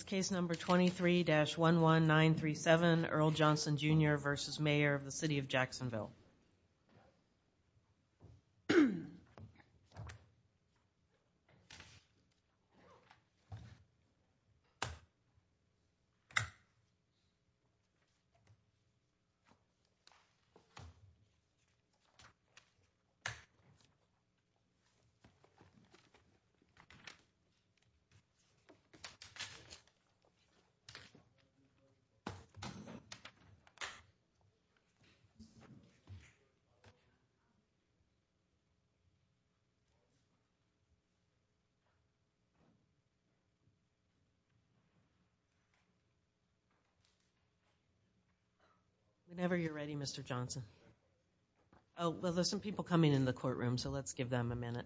It's case number 23-11937, Earl Johnson, Jr. v. Mayor, City of Jacksonville. Whenever you're ready, Mr. Johnson. Oh, well, there's some people coming in the courtroom, so let's give them a minute. Oh, well, there's some people coming in the courtroom, so let's give them a minute.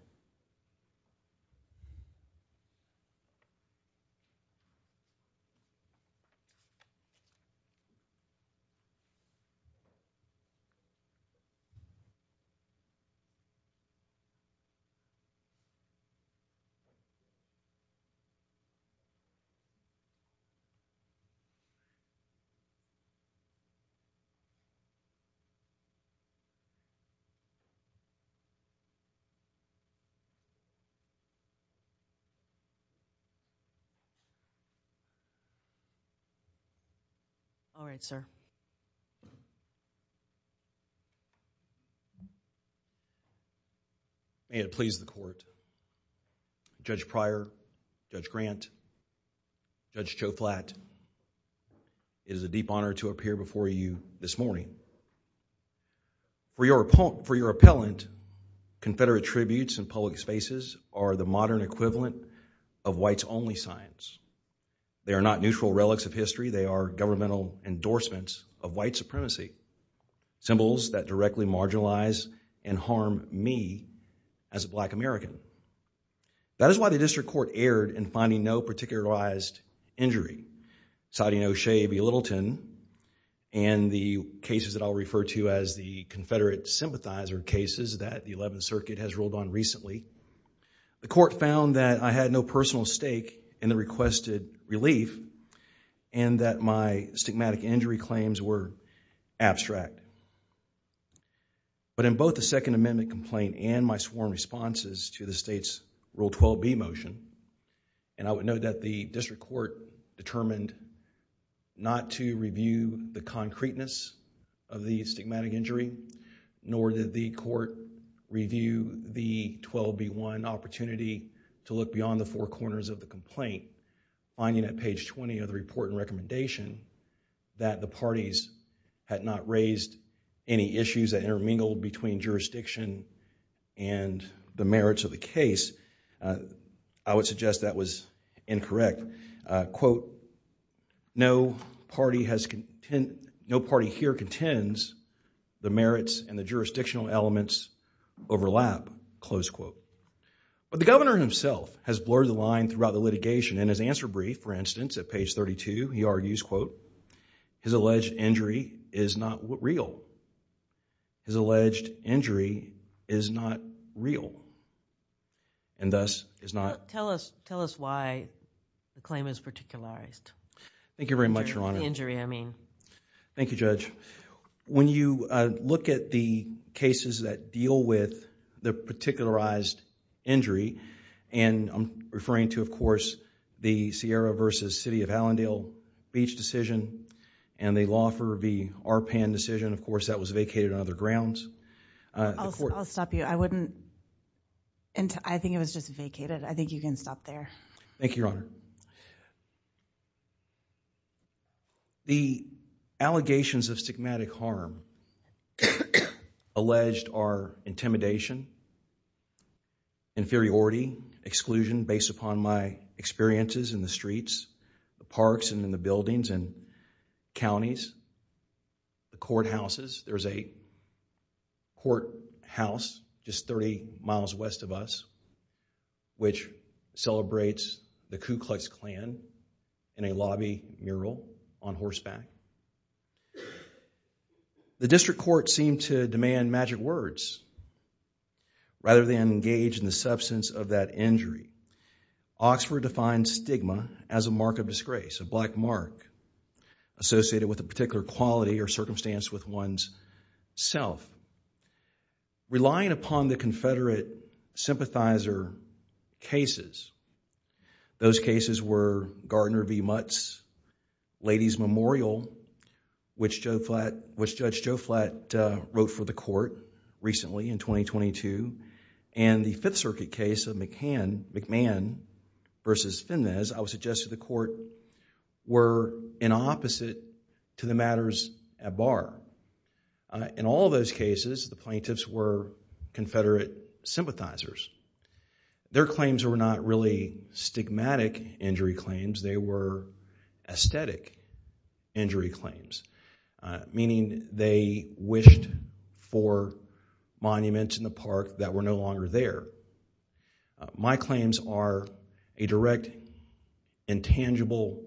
All right, sir. May it please the court. Judge Pryor, Judge Grant, Judge Joe Flatt, it is a deep honor to appear before you this morning. For your appellant, Confederate tributes in public spaces are the modern equivalent of whites-only signs. They are not neutral relics of history, they are governmental endorsements of white supremacy. Symbols that directly marginalize and harm me as a black American. That is why the district court erred in finding no particularized injury. Citing O'Shea B. Littleton and the cases that I'll refer to as the Confederate sympathizer cases that the 11th Circuit has ruled on recently, the court found that I had no personal stake in the requested relief and that my stigmatic injury claims were abstract. But in both the Second Amendment complaint and my sworn responses to the state's Rule 12b motion, and I would note that the district court determined not to review the concreteness of the stigmatic injury, nor did the court review the 12b-1 opportunity to look beyond the four corners of the complaint. Finding at page 20 of the report and recommendation that the parties had not raised any issues that intermingled between jurisdiction and the merits of the case, I would suggest that was incorrect. That, quote, no party here contends the merits and the jurisdictional elements overlap, close quote. But the governor himself has blurred the line throughout the litigation. In his answer brief, for instance, at page 32, he argues, quote, his alleged injury is not real. His alleged injury is not real. And thus is not. Tell us why the claim is particularized. Thank you very much, Your Honor. Injury, I mean. Thank you, Judge. When you look at the cases that deal with the particularized injury, and I'm referring to, of course, the Sierra v. City of Hallandale beach decision and the Laufer v. Arpan decision, of course, that was vacated on other grounds. I'll stop you. I wouldn't. I think it was just vacated. I think you can stop there. Thank you, Your Honor. The allegations of stigmatic harm alleged are intimidation, inferiority, exclusion based upon my experiences in the streets, the parks and in the buildings and counties, the courthouses. There's a courthouse just 30 miles west of us which celebrates the Ku Klux Klan in a lobby mural on horseback. The district court seemed to demand magic words rather than engage in the substance of that injury. Oxford defines stigma as a mark of disgrace, a black mark associated with a particular quality or circumstance with one's self. Relying upon the Confederate sympathizer cases, those cases were Gardner v. Mutz, Lady's Memorial, which Judge Joe Flatt wrote for the court recently in 2022, and the Fifth Circuit case of McMahon v. Finnez, I would suggest to the court were in opposite to the matters at bar. In all those cases, the plaintiffs were Confederate sympathizers. Their claims were not really stigmatic injury claims. They were aesthetic injury claims, meaning they wished for monuments in the park that were no longer there. My claims are a direct intangible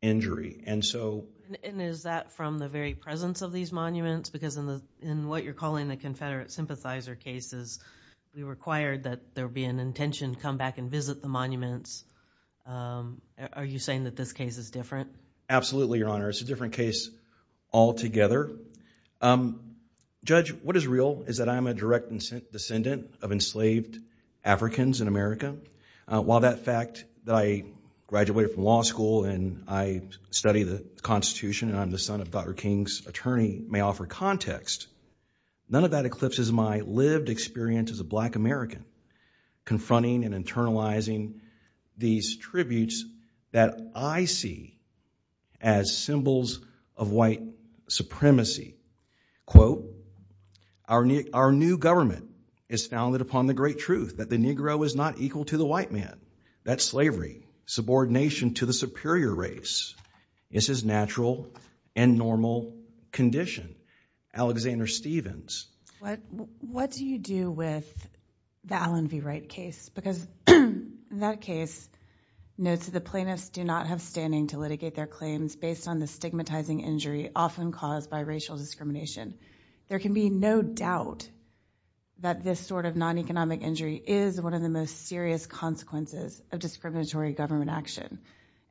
injury. And is that from the very presence of these monuments? Because in what you're calling the Confederate sympathizer cases, we required that there be an intention to come back and visit the monuments. Are you saying that this case is different? Absolutely, Your Honor. It's a different case altogether. Judge, what is real is that I'm a direct descendant of enslaved Africans in America. While that fact that I graduated from law school and I study the Constitution and I'm the son of Dr. King's attorney may offer context, none of that eclipses my lived experience as a black American confronting and internalizing these tributes that I see as symbols of white supremacy. Quote, our new government is founded upon the great truth that the Negro is not equal to the white man, that slavery, subordination to the superior race is his natural and normal condition. Alexander Stevens. What do you do with the Allen v. Wright case? Because in that case, notes of the plaintiffs do not have standing to litigate their claims based on the stigmatizing injury often caused by racial discrimination. There can be no doubt that this sort of non-economic injury is one of the most serious consequences of discriminatory government action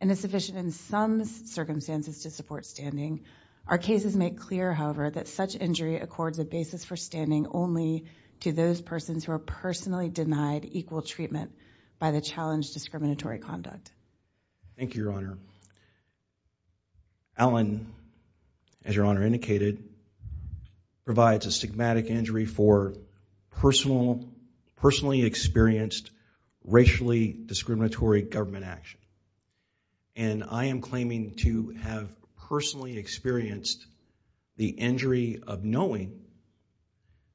and is sufficient in some circumstances to support standing. Our cases make clear, however, that such injury accords a basis for standing only to those persons who are personally denied equal treatment by the challenged discriminatory conduct. Thank you, Your Honor. Allen, as Your Honor indicated, provides a stigmatic injury for personally experienced racially discriminatory government action. And I am claiming to have personally experienced the injury of knowing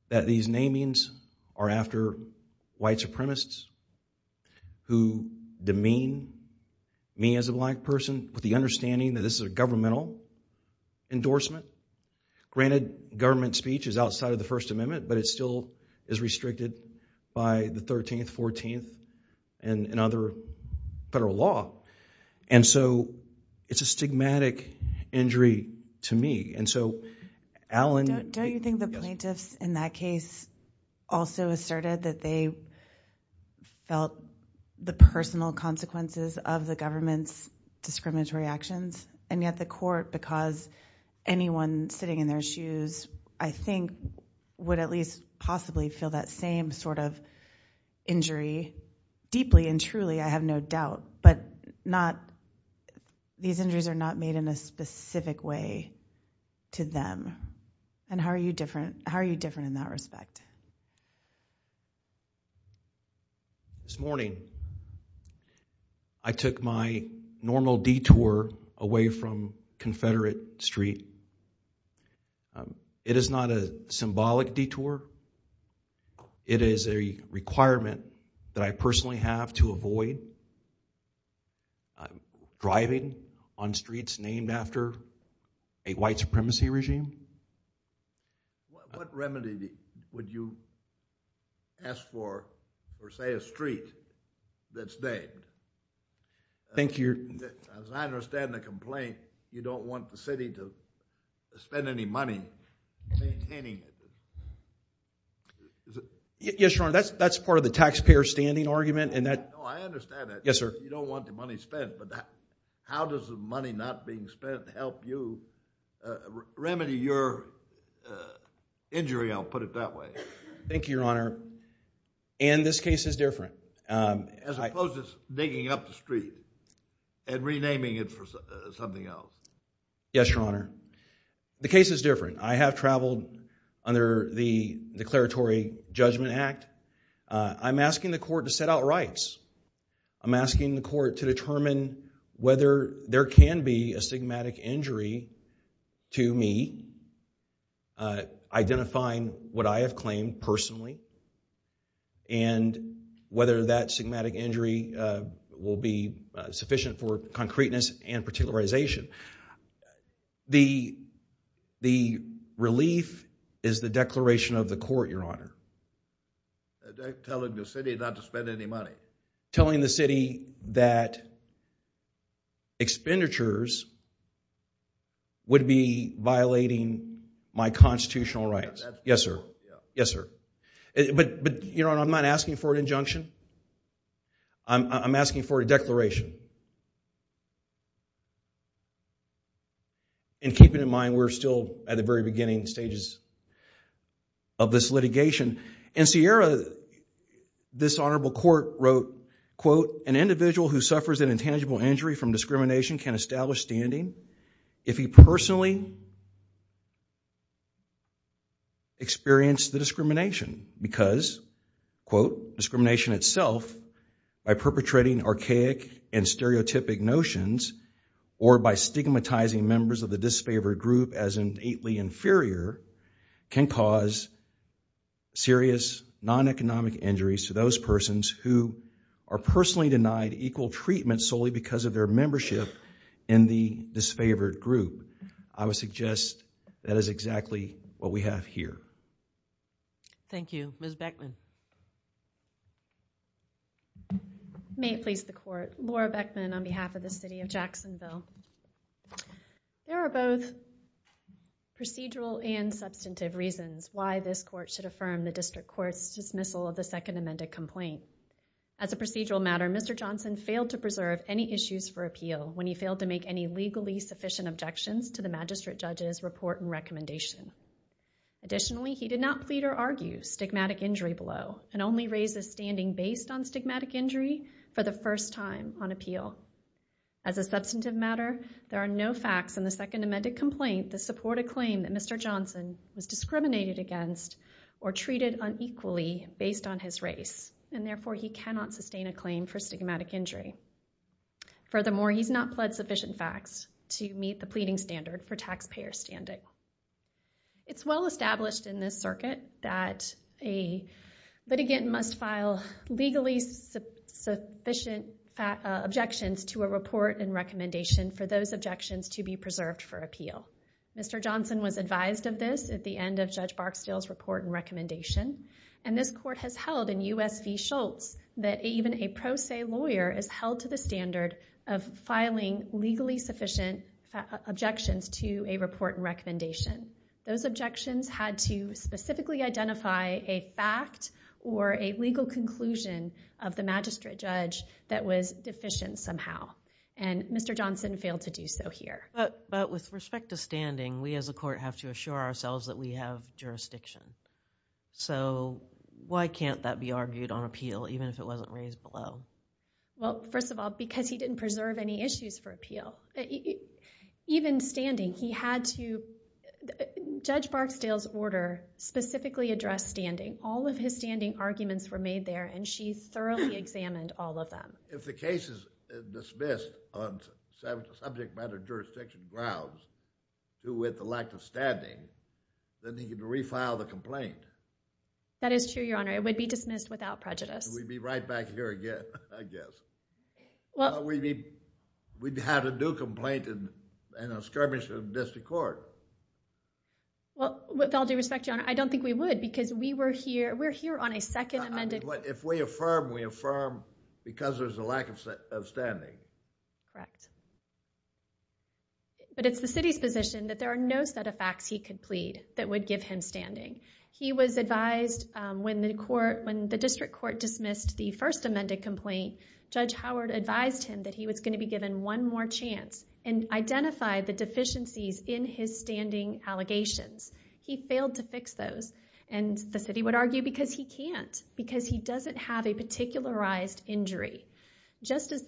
that these namings are after white supremacists who demean me as a black person with the understanding that this is a governmental endorsement. Granted, government speech is outside of the First Amendment, but it still is restricted by the 13th, 14th, and other federal law. And so, it's a stigmatic injury to me. Don't you think the plaintiffs in that case also asserted that they felt the personal consequences of the government's discriminatory actions? And yet the court, because anyone sitting in their shoes, I think, would at least possibly feel that same sort of injury deeply and truly, I have no doubt. But these injuries are not made in a specific way to them. And how are you different in that respect? This morning, I took my normal detour away from Confederate Street. It is not a symbolic detour. It is a requirement that I personally have to avoid driving on streets named after a white supremacy regime. What remedy would you ask for, for say a street that's named? Thank you. As I understand the complaint, you don't want the city to spend any money maintaining it. Yes, Your Honor, that's part of the taxpayer standing argument. No, I understand that. Yes, sir. You don't want the money spent, but how does the money not being spent help you remedy your injury, I'll put it that way. Thank you, Your Honor. And this case is different. As opposed to digging up the street and renaming it for something else. Yes, Your Honor. The case is different. I have traveled under the Declaratory Judgment Act. I'm asking the court to set out rights. I'm asking the court to determine whether there can be a stigmatic injury to me, identifying what I have claimed personally, and whether that stigmatic injury will be sufficient for concreteness and particularization. The relief is the declaration of the court, Your Honor. Telling the city not to spend any money. Telling the city that expenditures would be violating my constitutional rights. Yes, sir. Yes, sir. But, Your Honor, I'm not asking for an injunction. I'm asking for a declaration. And keeping in mind we're still at the very beginning stages of this litigation. In Sierra, this honorable court wrote, quote, an individual who suffers an intangible injury from discrimination can establish standing if he personally experienced the discrimination. Because, quote, discrimination itself, by perpetrating archaic and stereotypic notions, or by stigmatizing members of the disfavored group as innately inferior, can cause serious non-economic injuries to those persons who are personally denied equal treatment solely because of their membership in the disfavored group. I would suggest that is exactly what we have here. Thank you. Ms. Beckman. May it please the court. Laura Beckman on behalf of the city of Jacksonville. There are both procedural and substantive reasons why this court should affirm the district court's dismissal of the second amended complaint. As a procedural matter, Mr. Johnson failed to preserve any issues for appeal when he failed to make any legally sufficient objections to the magistrate judge's report and recommendation. Additionally, he did not plead or argue stigmatic injury below and only raised his standing based on stigmatic injury for the first time on appeal. As a substantive matter, there are no facts in the second amended complaint that support a claim that Mr. Johnson was discriminated against or treated unequally based on his race. And therefore, he cannot sustain a claim for stigmatic injury. Furthermore, he's not pled sufficient facts to meet the pleading standard for taxpayer standing. It's well established in this circuit that a litigant must file legally sufficient objections to a report and recommendation for those objections to be preserved for appeal. Mr. Johnson was advised of this at the end of Judge Barksdale's report and recommendation. And this court has held in U.S. v. Schultz that even a pro se lawyer is held to the standard of filing legally sufficient objections to a report and recommendation. Those objections had to specifically identify a fact or a legal conclusion of the magistrate judge that was deficient somehow. And Mr. Johnson failed to do so here. But with respect to standing, we as a court have to assure ourselves that we have jurisdiction. So why can't that be argued on appeal even if it wasn't raised below? Well, first of all, because he didn't preserve any issues for appeal. Even standing, he had to, Judge Barksdale's order specifically addressed standing. All of his standing arguments were made there and she thoroughly examined all of them. If the case is dismissed on subject matter jurisdiction grounds due with the lack of standing, then he can refile the complaint. That is true, Your Honor. It would be dismissed without prejudice. We'd be right back here again, I guess. We'd have to do a complaint and a skirmish of this court. Well, with all due respect, Your Honor, I don't think we would because we're here on a second amended... If we affirm, we affirm because there's a lack of standing. Correct. But it's the city's position that there are no set of facts he could plead that would give him standing. He was advised when the district court dismissed the first amended complaint, Judge Howard advised him that he was going to be given one more chance and identified the deficiencies in his standing allegations. He failed to fix those and the city would argue because he can't, because he doesn't have a particularized injury. Just as the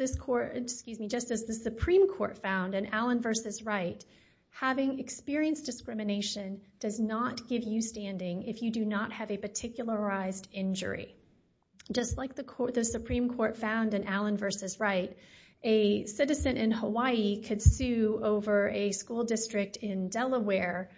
Supreme Court found in Allen v. Wright, having experienced discrimination does not give you standing if you do not have a particularized injury. Just like the Supreme Court found in Allen v. Wright, a citizen in Hawaii could sue over a school district in Delaware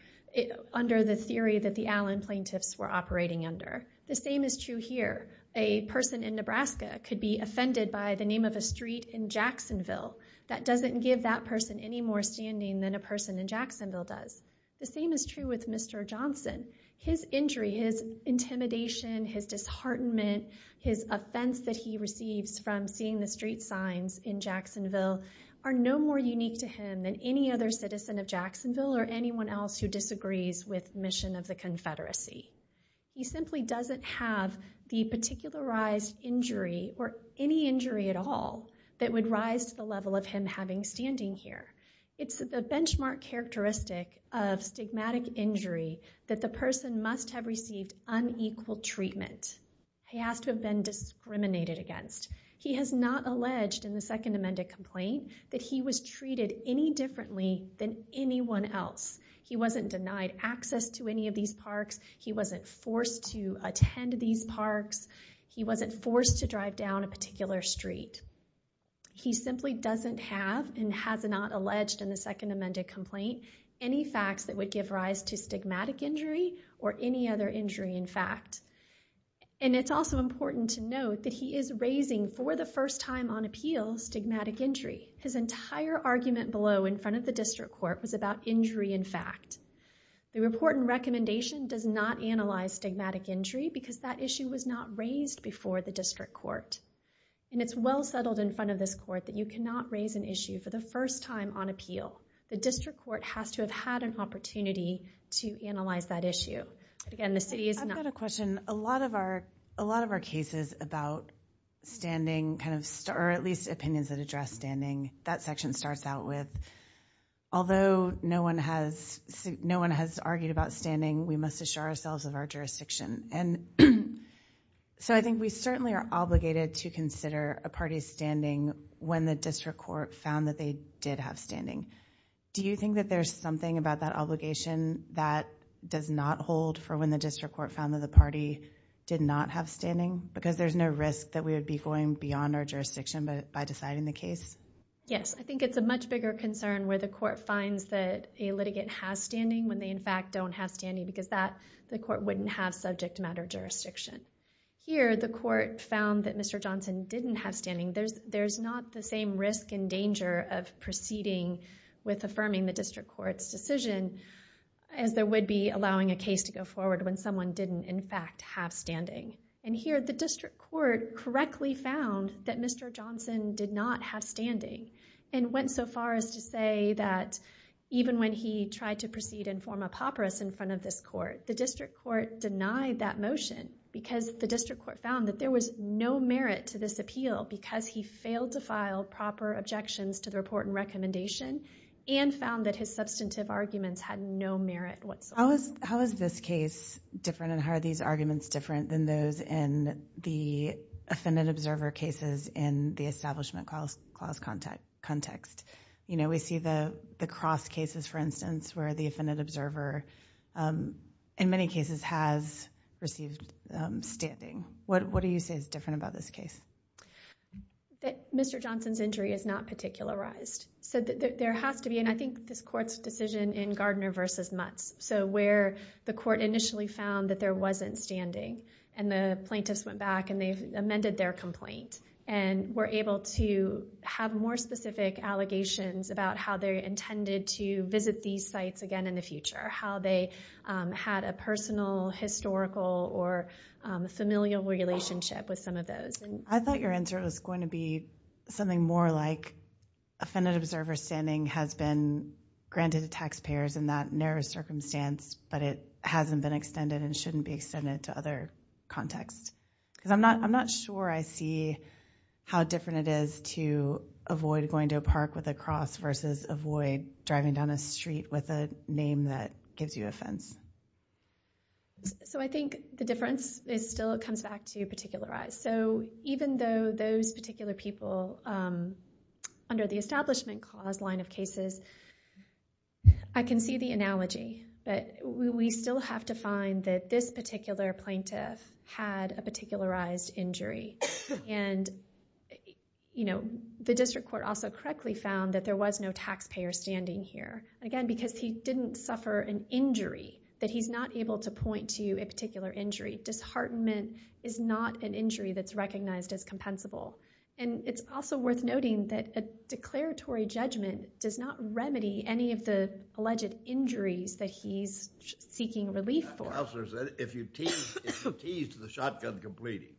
under the theory that the Allen plaintiffs were operating under. The same is true here. A person in Nebraska could be offended by the name of a street in Jacksonville. That doesn't give that person any more standing than a person in Jacksonville does. The same is true with Mr. Johnson. His injury, his intimidation, his disheartenment, his offense that he receives from seeing the street signs in Jacksonville are no more unique to him than any other citizen of Jacksonville or anyone else who disagrees with the mission of the Confederacy. He simply doesn't have the particularized injury or any injury at all that would rise to the level of him having standing here. It's the benchmark characteristic of stigmatic injury that the person must have received unequal treatment. He has to have been discriminated against. He has not alleged in the Second Amendment complaint that he was treated any differently than anyone else. He wasn't denied access to any of these parks. He wasn't forced to attend these parks. He wasn't forced to drive down a particular street. He simply doesn't have and has not alleged in the Second Amendment complaint any facts that would give rise to stigmatic injury or any other injury in fact. It's also important to note that he is raising, for the first time on appeal, stigmatic injury. His entire argument below in front of the district court was about injury in fact. The report and recommendation does not analyze stigmatic injury because that issue was not raised before the district court. It's well settled in front of this court that you cannot raise an issue for the first time on appeal. The district court has to have had an opportunity to analyze that issue. Again, the city is not- I've got a question. A lot of our cases about standing, or at least opinions that address standing, that section starts out with, although no one has argued about standing, we must assure ourselves of our jurisdiction. I think we certainly are obligated to consider a party's standing when the district court found that they did have standing. Do you think that there's something about that obligation that does not hold for when the district court found that the party did not have standing because there's no risk that we would be going beyond our jurisdiction by deciding the case? Yes. I think it's a much bigger concern where the court finds that a litigant has standing when they, in fact, don't have standing because the court wouldn't have subject matter jurisdiction. Here, the court found that Mr. Johnson didn't have standing. There's not the same risk and danger of proceeding with affirming the district court's decision as there would be allowing a case to go forward when someone didn't, in fact, have standing. Here, the district court correctly found that Mr. Johnson did not have standing and went so far as to say that even when he tried to proceed and form a papyrus in front of this court, the district court denied that motion because the district court found that there was no merit to this appeal because he failed to file proper objections to the report and recommendation and found that his substantive arguments had no merit whatsoever. How is this case different and how are these arguments different than those in the offendant observer cases in the establishment clause context? We see the cross cases, for instance, where the offendant observer in many cases has received standing. What do you say is different about this case? Mr. Johnson's injury is not particularized. There has to be, and I think this court's decision in Gardner v. Mutz, so where the court initially found that there wasn't standing and the plaintiffs went back and they amended their complaint and were able to have more specific allegations about how they intended to visit these sites again in the future, how they had a personal, historical, or familial relationship with some of those. I thought your answer was going to be something more like the offendant observer standing has been granted to taxpayers in that narrow circumstance, but it hasn't been extended and shouldn't be extended to other contexts. I'm not sure I see how different it is to avoid going to a park with a cross versus avoid driving down a street with a name that gives you offense. I think the difference still comes back to particularize. Even though those particular people under the Establishment Clause line of cases, I can see the analogy that we still have to find that this particular plaintiff had a particularized injury. The district court also correctly found that there was no taxpayer standing here, again, because he didn't suffer an injury, that he's not able to point to a particular injury. Disheartenment is not an injury that's recognized as compensable. It's also worth noting that a declaratory judgment does not remedy any of the alleged injuries that he's seeking relief for. Counselor said if you teased the shotgun completing,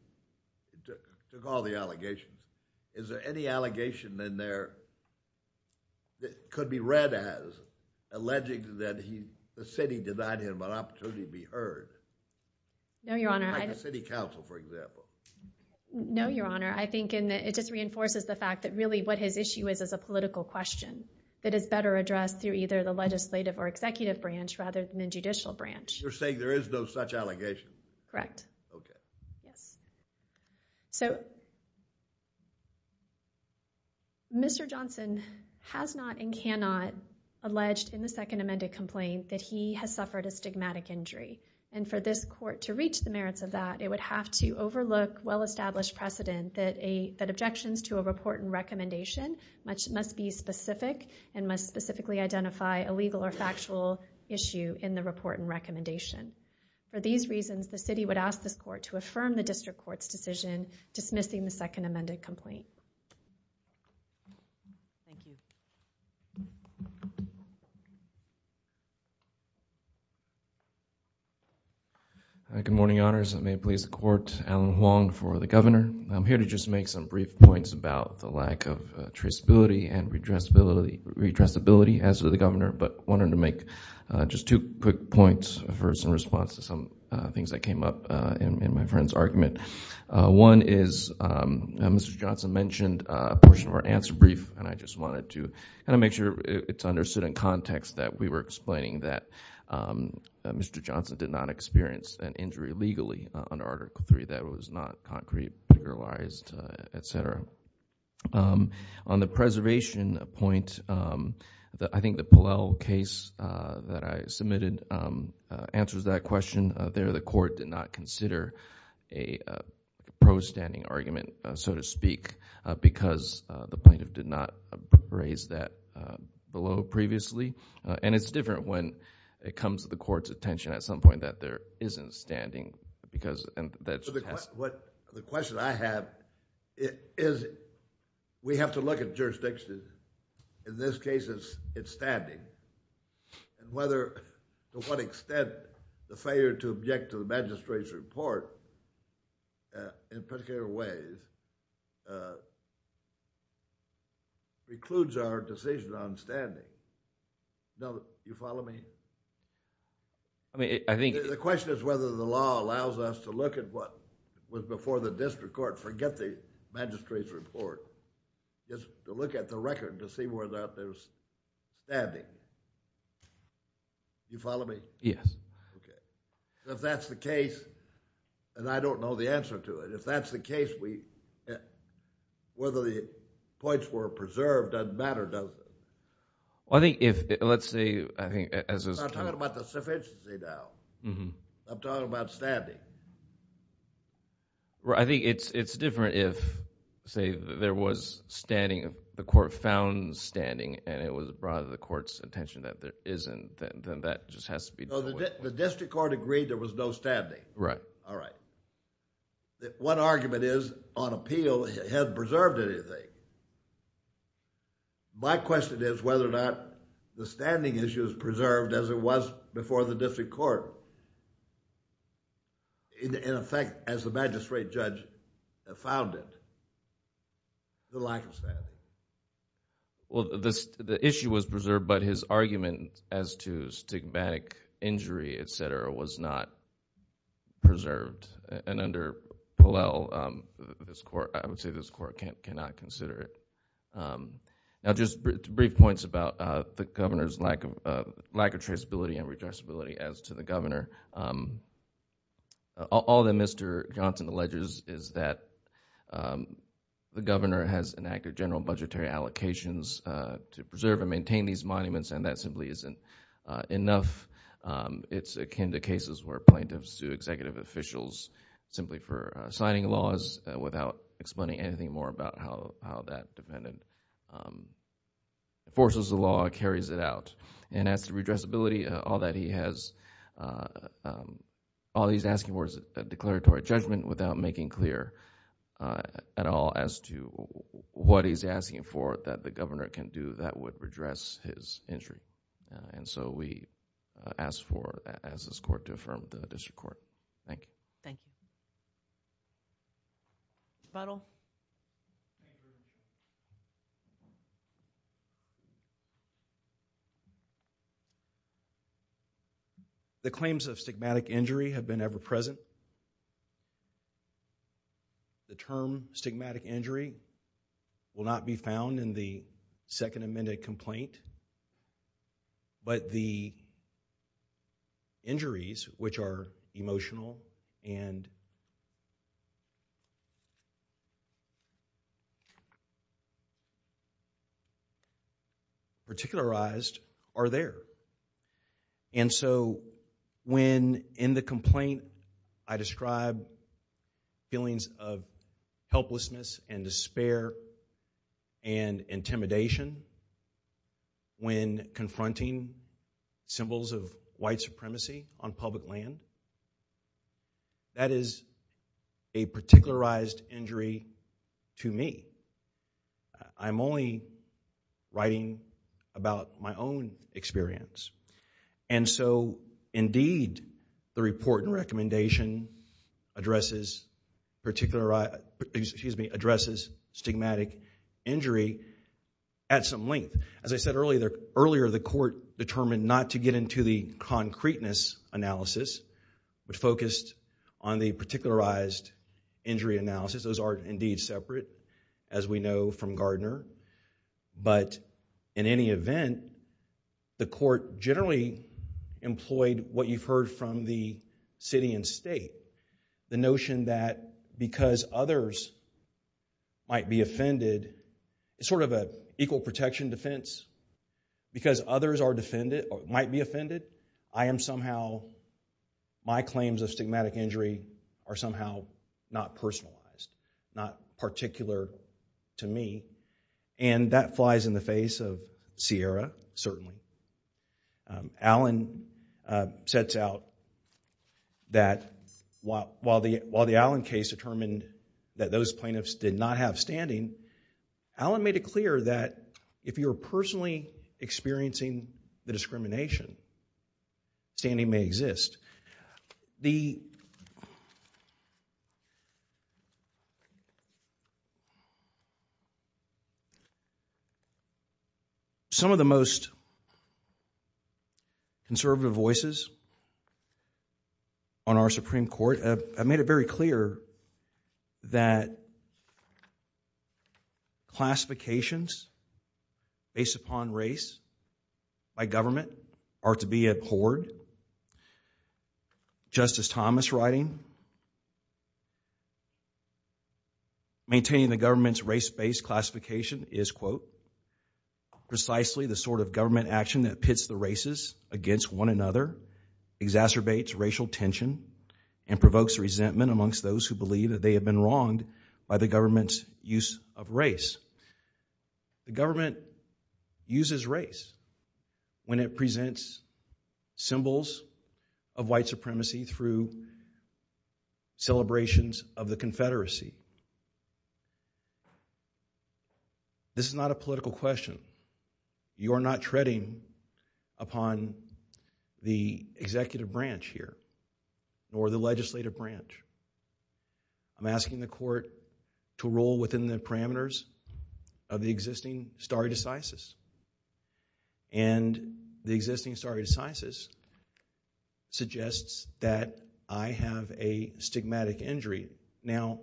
took all the allegations, is there any allegation in there that could be read as alleging that the city denied him an opportunity to be heard? No, Your Honor. Like the city council, for example. No, Your Honor. I think it just reinforces the fact that really what his issue is is a political question that is better addressed through either the legislative or executive branch rather than the judicial branch. You're saying there is no such allegation? Correct. Okay. Yes. So, Mr. Johnson has not and cannot allege in the second amended complaint that he has suffered a stigmatic injury. And for this court to reach the merits of that, it would have to overlook well-established precedent that objections to a report and recommendation must be specific and must specifically identify a legal or factual issue in the report and recommendation. For these reasons, the city would ask this court to affirm the district court's decision dismissing the second amended complaint. Thank you. Good morning, Your Honors. May it please the court, Alan Huang for the governor. I'm here to just make some brief points about the lack of traceability and redressability as to the governor, but wanted to make just two quick points first in response to some things that came up in my friend's argument. One is Mr. Johnson mentioned a portion of our answer brief, and I just wanted to kind of make sure it's understood in context that we were explaining that Mr. Johnson did not experience an injury legally under Article III, that it was not concrete, figuralized, et cetera. On the preservation point, I think the Pallel case that I submitted answers that question. There the court did not consider a pro-standing argument, so to speak, because the plaintiff did not raise that below previously, and it's different when it comes to the court's attention at some point that there isn't standing. The question I have is we have to look at jurisdictions, in this case it's standing, and whether to what extent the failure to object to the magistrate's report in particular ways precludes our decision on standing. Do you follow me? The question is whether the law allows us to look at what was before the district court, forget the magistrate's report, just to look at the record to see whether or not there's standing. Do you follow me? Yes. If that's the case, and I don't know the answer to it, if that's the case, whether the points were preserved doesn't matter, does it? Well, I think if, let's say, I think, as was talked about. I'm talking about the sufficiency now. I'm talking about standing. I think it's different if, say, there was standing, the court found standing, and it was brought to the court's attention that there isn't, then that just has to be done away with. The district court agreed there was no standing. Right. All right. One argument is, on appeal, it hasn't preserved anything. My question is whether or not the standing issue is preserved as it was before the district court. In effect, as the magistrate judge found it, the lack of standing. Well, the issue was preserved, but his argument as to stigmatic injury, et cetera, was not preserved. Under Pallel, I would say this court cannot consider it. Now, just brief points about the governor's lack of traceability and redressability as to the governor. All that Mr. Johnson alleges is that the governor has enacted general budgetary allocations to preserve and maintain these monuments, and that simply isn't enough. It's akin to cases where plaintiffs sue executive officials simply for signing laws without explaining anything more about how that dependent forces of law carries it out. As to redressability, all that he's asking for is a declaratory judgment without making clear at all as to what he's asking for that the governor can do that would redress his injury. We ask for, as this court, to affirm the district court. Thank you. Thank you. Butler? The claims of stigmatic injury have been ever-present. The term stigmatic injury will not be found in the Second Amendment complaint, but the injuries, which are emotional and particularized, are there. And so when in the complaint I describe feelings of helplessness and despair and intimidation when confronting symbols of white supremacy on public land, that is a particularized injury to me. I'm only writing about my own experience. And so, indeed, the report and recommendation addresses stigmatic injury at some length. As I said earlier, the court determined not to get into the concreteness analysis, but focused on the particularized injury analysis. Those are, indeed, separate, as we know from Gardner. But in any event, the court generally employed what you've heard from the city and state, the notion that because others might be offended, it's sort of an equal protection defense. Because others might be offended, I am somehow, my claims of stigmatic injury are somehow not personalized, not particular to me. And that flies in the face of Sierra, certainly. Allen sets out that while the Allen case determined that those plaintiffs did not have standing, Allen made it clear that if you're personally experiencing the discrimination, standing may exist. The... Some of the most conservative voices on our Supreme Court have made it very clear that classifications based upon race by government are to be abhorred. Justice Thomas writing, maintaining the government's race-based classification is, quote, precisely the sort of government action that pits the races against one another, exacerbates racial tension, and provokes resentment amongst those who believe that they have been wronged by the government's use of race. The government uses race when it presents symbols of white supremacy through celebrations of the Confederacy. This is not a political question. You are not treading upon the executive branch here, nor the legislative branch. I'm asking the court to rule within the parameters of the existing stare decisis. And the existing stare decisis suggests that I have a stigmatic injury. Now,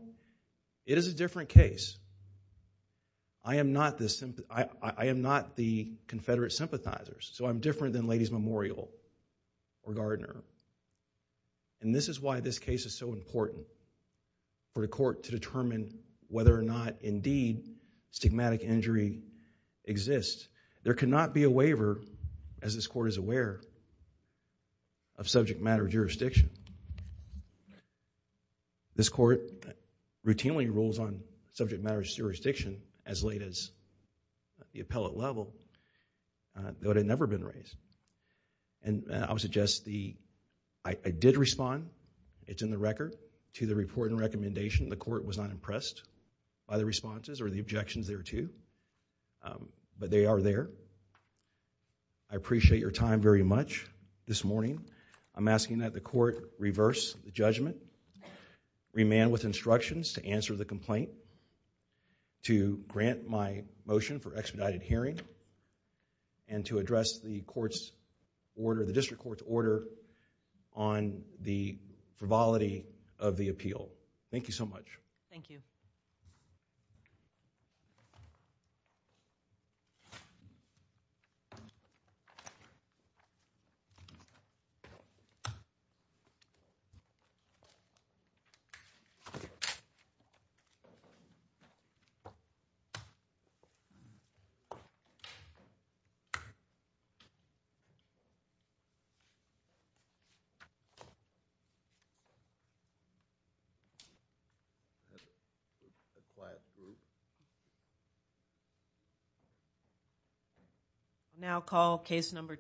it is a different case. I am not the Confederate sympathizers, so I'm different than Ladies Memorial or Gardner. And this is why this case is so important for the court to determine whether or not, indeed, stigmatic injury exists. There cannot be a waiver, as this court is aware, of subject-matter jurisdiction. This court routinely rules on subject-matter jurisdiction as late as the appellate level, though it had never been raised. And I would suggest the... I did respond, it's in the record, to the report and recommendation. The court was not impressed by the responses or the objections thereto, but they are there. I appreciate your time very much this morning. I'm asking that the court reverse the judgment, remand with instructions to answer the complaint, to grant my motion for expedited hearing, and to address the district court's order on the frivolity of the appeal. Thank you so much. Thank you. Thank you.